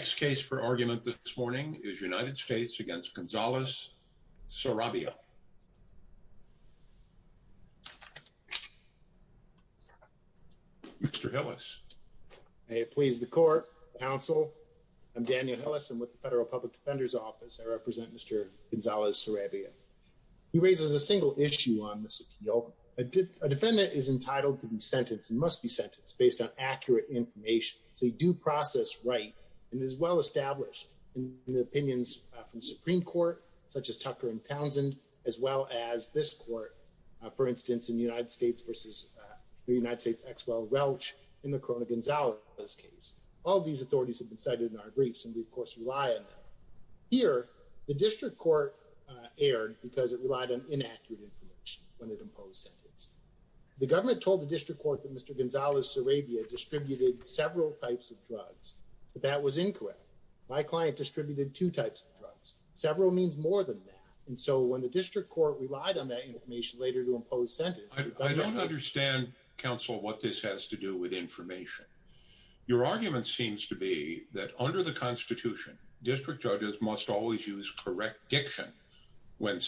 Next case for argument this morning is United States v. Gonzalez-Sarabia. Mr. Hillis. May it please the court, counsel, I'm Daniel Hillis and with the Federal Public Defender's Office I represent Mr. Gonzalez-Sarabia. He raises a single issue on this appeal. A defendant is entitled to be sentenced and is well established in the opinions of the Supreme Court, such as Tucker and Townsend, as well as this court, for instance, in United States v. United States Exwell Welch in the Corona-Gonzalez case. All these authorities have been cited in our briefs and we of course rely on them. Here, the district court erred because it relied on inaccurate information when it imposed sentence. The government told the district court that Mr. Gonzalez-Sarabia distributed several types of drugs, but that was incorrect. My client distributed two types of drugs. Several means more than that. And so when the district court relied on that information later to impose sentence... I don't understand, counsel, what this has to do with information. Your argument seems to be that under the Constitution, district judges must always use correct diction when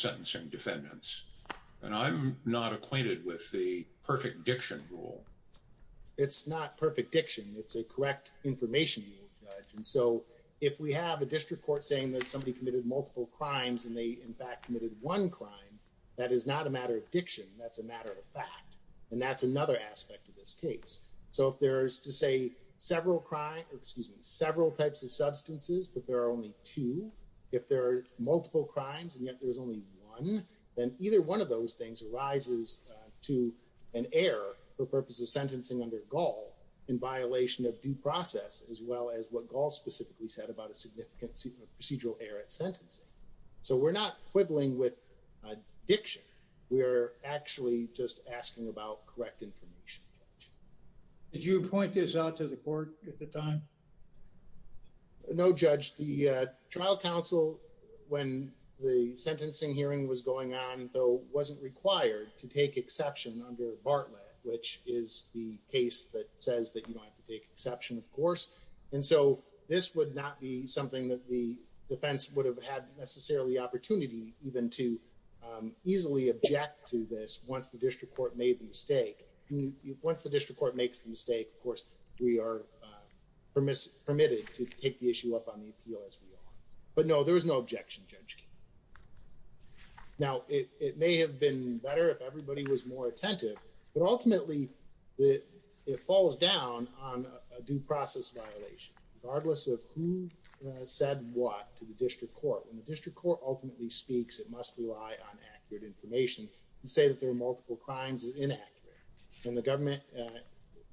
I'm not acquainted with the perfect diction rule. It's not perfect diction. It's a correct information rule, judge. And so if we have a district court saying that somebody committed multiple crimes and they in fact committed one crime, that is not a matter of diction. That's a matter of fact. And that's another aspect of this case. So if there's to say several crime or excuse me, several types of substances, but there are only two, if there are multiple crimes and yet there's only one, then either one of those things arises to an error for purposes of sentencing under Gaul in violation of due process, as well as what Gaul specifically said about a significant procedural error at sentencing. So we're not quibbling with diction. We're actually just asking about correct information. Did you appoint this out to the court at the time? No, judge. The trial counsel, when the sentencing hearing was going on, though, wasn't required to take exception under Bartlett, which is the case that says that you don't have to take exception, of course. And so this would not be something that the defense would have had necessarily opportunity even to easily object to this once the district court made the mistake. Once the district court makes the mistake, of course, we are permitted to take the issue up on the appeal as we are. But no, there was no objection, Judge King. Now, it may have been better if everybody was more attentive, but ultimately it falls down on a due process violation, regardless of who said what to the district court. When the district court ultimately speaks, it must rely on accurate information. To say that there are multiple crimes is inaccurate. And the government,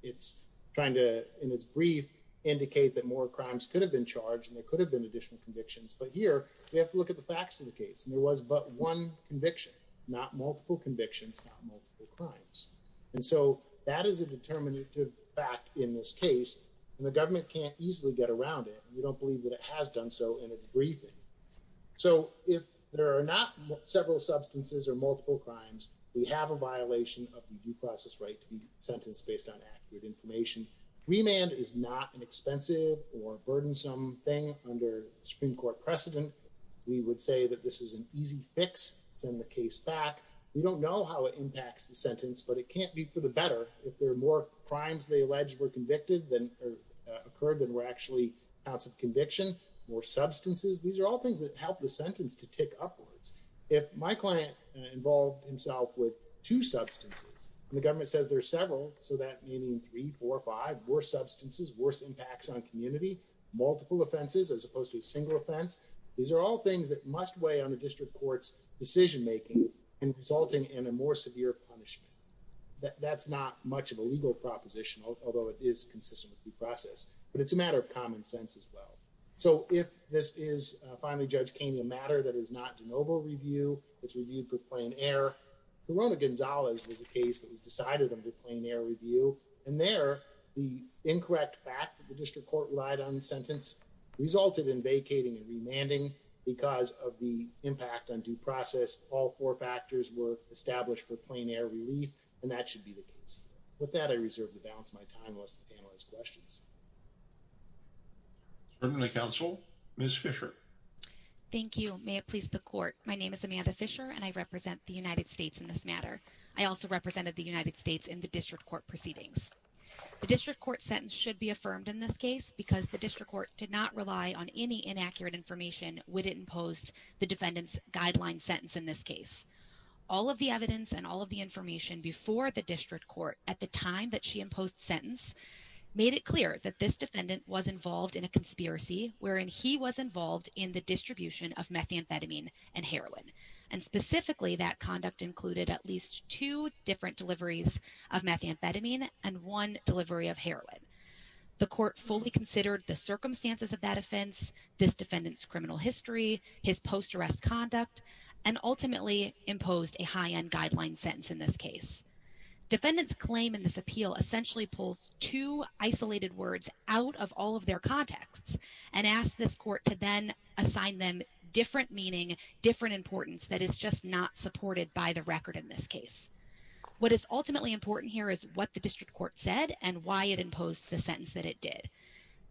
it's trying to, in its brief, indicate that more crimes could have been convictions. But here, we have to look at the facts of the case, and there was but one conviction, not multiple convictions, not multiple crimes. And so that is a determinative fact in this case, and the government can't easily get around it, and we don't believe that it has done so in its briefing. So if there are not several substances or multiple crimes, we have a violation of the due process right to be sentenced based on accurate information. Remand is not an expensive or burdensome thing under Supreme Court precedent. We would say that this is an easy fix, send the case back. We don't know how it impacts the sentence, but it can't be for the better. If there are more crimes they allege were convicted, or occurred that were actually counts of conviction, more substances, these are all things that help the sentence to tick upwards. If my client involved himself with two substances, and the government says there are several, so that meaning three, four, five, worse substances, worse impacts on community, multiple offenses as opposed to a single offense, these are all things that must weigh on the district court's decision making, and resulting in a more severe punishment. That's not much of a legal proposition, although it is consistent with due process, but it's a matter of common sense as well. So if this is, finally, Judge Kainey, a matter that is not de novo review, it's reviewed for plain error, Corona-Gonzalez was a case that was decided under plain error review, and there, the incorrect fact that the district court relied on the sentence resulted in vacating and remanding, because of the impact on due process, all four factors were established for plain error relief, and that should be the case. With that, I reserve the balance of my time, unless the panel has questions. Certainly, counsel. Ms. Fisher. Thank you. May it please the court. My name is Amanda Fisher, and I represent the United States in the district court proceedings. The district court sentence should be affirmed in this case, because the district court did not rely on any inaccurate information when it imposed the defendant's guideline sentence in this case. All of the evidence and all of the information before the district court at the time that she imposed sentence made it clear that this defendant was involved in a conspiracy, wherein he was involved in the distribution of methamphetamine and heroin, and specifically, that conduct included at least two different deliveries of methamphetamine and one delivery of heroin. The court fully considered the circumstances of that offense, this defendant's criminal history, his post-arrest conduct, and ultimately imposed a high-end guideline sentence in this case. Defendant's claim in this appeal essentially pulls two isolated words out of all of their contexts, and asks this court to then assign them different meaning, different importance that is just not supported by the record in this case. What is ultimately important here is what the district court said and why it imposed the sentence that it did.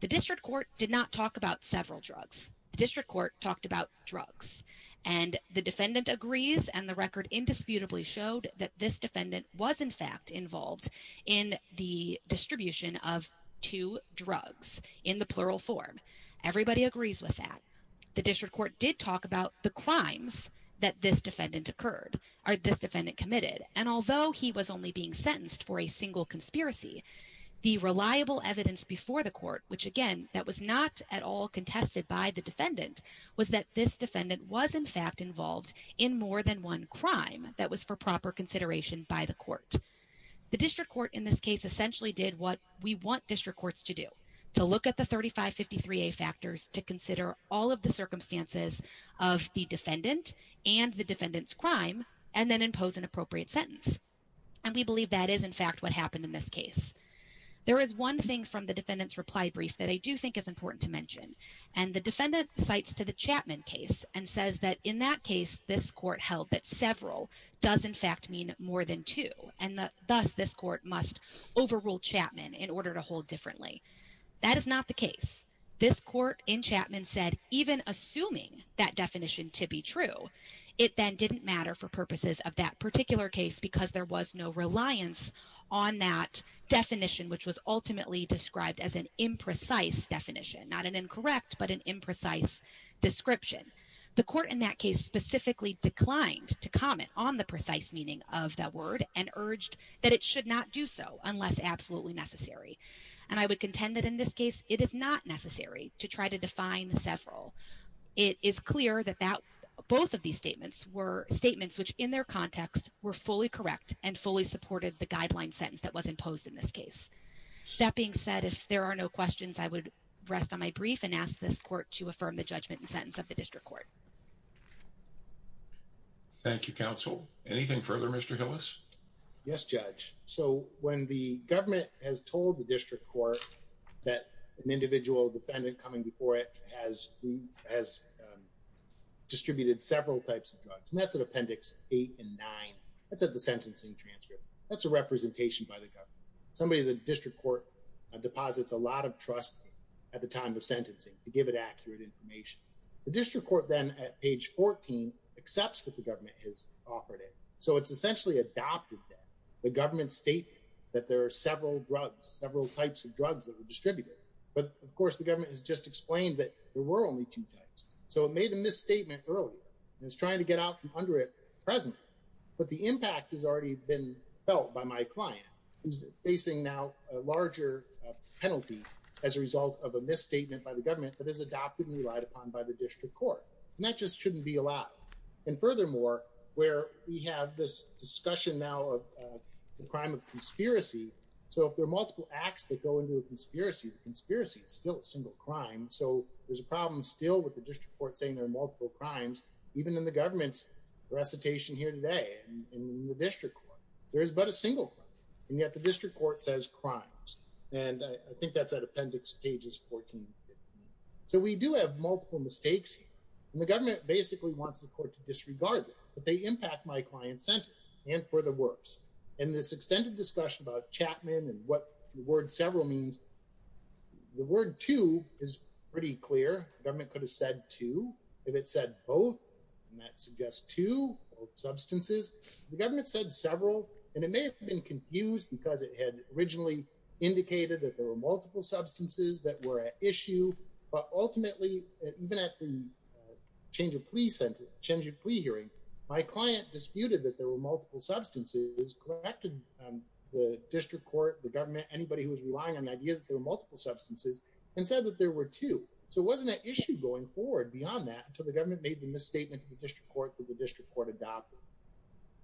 The district court did not talk about several drugs. The district court talked about drugs, and the defendant agrees, and the record indisputably showed that this defendant was in fact involved in the distribution of two drugs, in the plural form. Everybody agrees with that. The district court did talk about the crimes that this defendant committed, and although he was only being sentenced for a single conspiracy, the reliable evidence before the court, which again, that was not at all contested by the defendant, was that this defendant was in fact involved in more than one crime that was for proper consideration by the court. The district court in this case essentially did what we want district courts to do, to consider all of the circumstances of the defendant and the defendant's crime, and then impose an appropriate sentence, and we believe that is in fact what happened in this case. There is one thing from the defendant's reply brief that I do think is important to mention, and the defendant cites to the Chapman case and says that in that case, this court held that several does in fact mean more than two, and thus this court must overrule Chapman in order to hold differently. That is not the case. This court in Chapman said even assuming that definition to be true, it then didn't matter for purposes of that particular case because there was no reliance on that definition, which was ultimately described as an imprecise definition, not an incorrect, but an imprecise description. The court in that case specifically declined to comment on the precise meaning of that word and urged that it should not do so unless absolutely necessary, and I would contend that in this case, it is not necessary to try to define several. It is clear that both of these statements were statements which in their context were fully correct and fully supported the guideline sentence that was imposed in this case. That being said, if there are no questions, I would rest on my brief and ask this court to affirm the judgment and sentence of the district court. Thank you, counsel. Anything further, Mr. Hillis? Yes, Judge. So when the government has told the district court that an individual defendant coming before it has distributed several types of drugs, and that's in Appendix 8 and 9, that's at the sentencing transcript. That's a representation by the government. Somebody in the district court deposits a lot of trust at the time of sentencing to give it accurate information. The district court then at page 14 accepts what the government has offered it. So it's essentially adopted that. The government stated that there are several drugs, several types of drugs that were distributed. But of course, the government has just explained that there were only two types. So it made a misstatement earlier and is trying to get out from under it presently. But the impact has already been felt by my client, who's facing now a larger penalty as a result of a misstatement by the government that is adopted and relied upon by the district court. And that just shouldn't be allowed. And furthermore, where we have this discussion now of the crime of conspiracy. So if there are multiple acts that go into a conspiracy, the conspiracy is still a single crime. So there's a problem still with the district court saying there are multiple crimes, even in the government's recitation here today in the district court. There is but a single crime. And yet the district court says crimes. And I think that's that appendix pages 14. So we do have multiple mistakes. And the government basically wants the court to disregard it. But they impact my client sentence and for the worse. And this extended discussion about Chapman and what the word several means. The word two is pretty clear government could have said to if it said both, and that suggests to substances, the government said several, and it may have been confused, because it had originally indicated that there were multiple substances that were an issue. But ultimately, even at the change of police and change of plea hearing, my client disputed that there were multiple substances collected, the district court, the government, anybody who was relying on the idea that there were multiple substances, and said that there were two. So it wasn't an issue going forward beyond that, until the government made the misstatement in the district court that the district court adopted.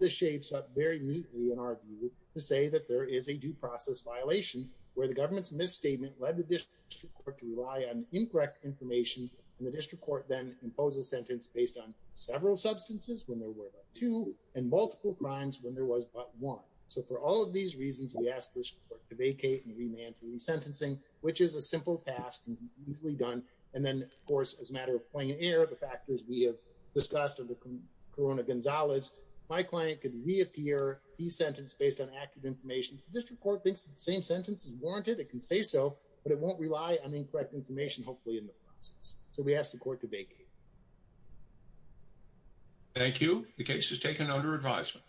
The shapes up very neatly in our view to say that there is a due process violation, where the government's misstatement led the district court to rely on incorrect information, and the district court then impose a sentence based on several substances when there were two and multiple crimes when there was but one. So for all of these reasons, we asked the court to vacate and remand for resentencing, which is a simple task and easily done. And my client could reappear the sentence based on accurate information to district court thinks the same sentence is warranted, it can say so, but it won't rely on incorrect information, hopefully in the process. So we asked the court to vacate. Thank you. The case is taken under advisement.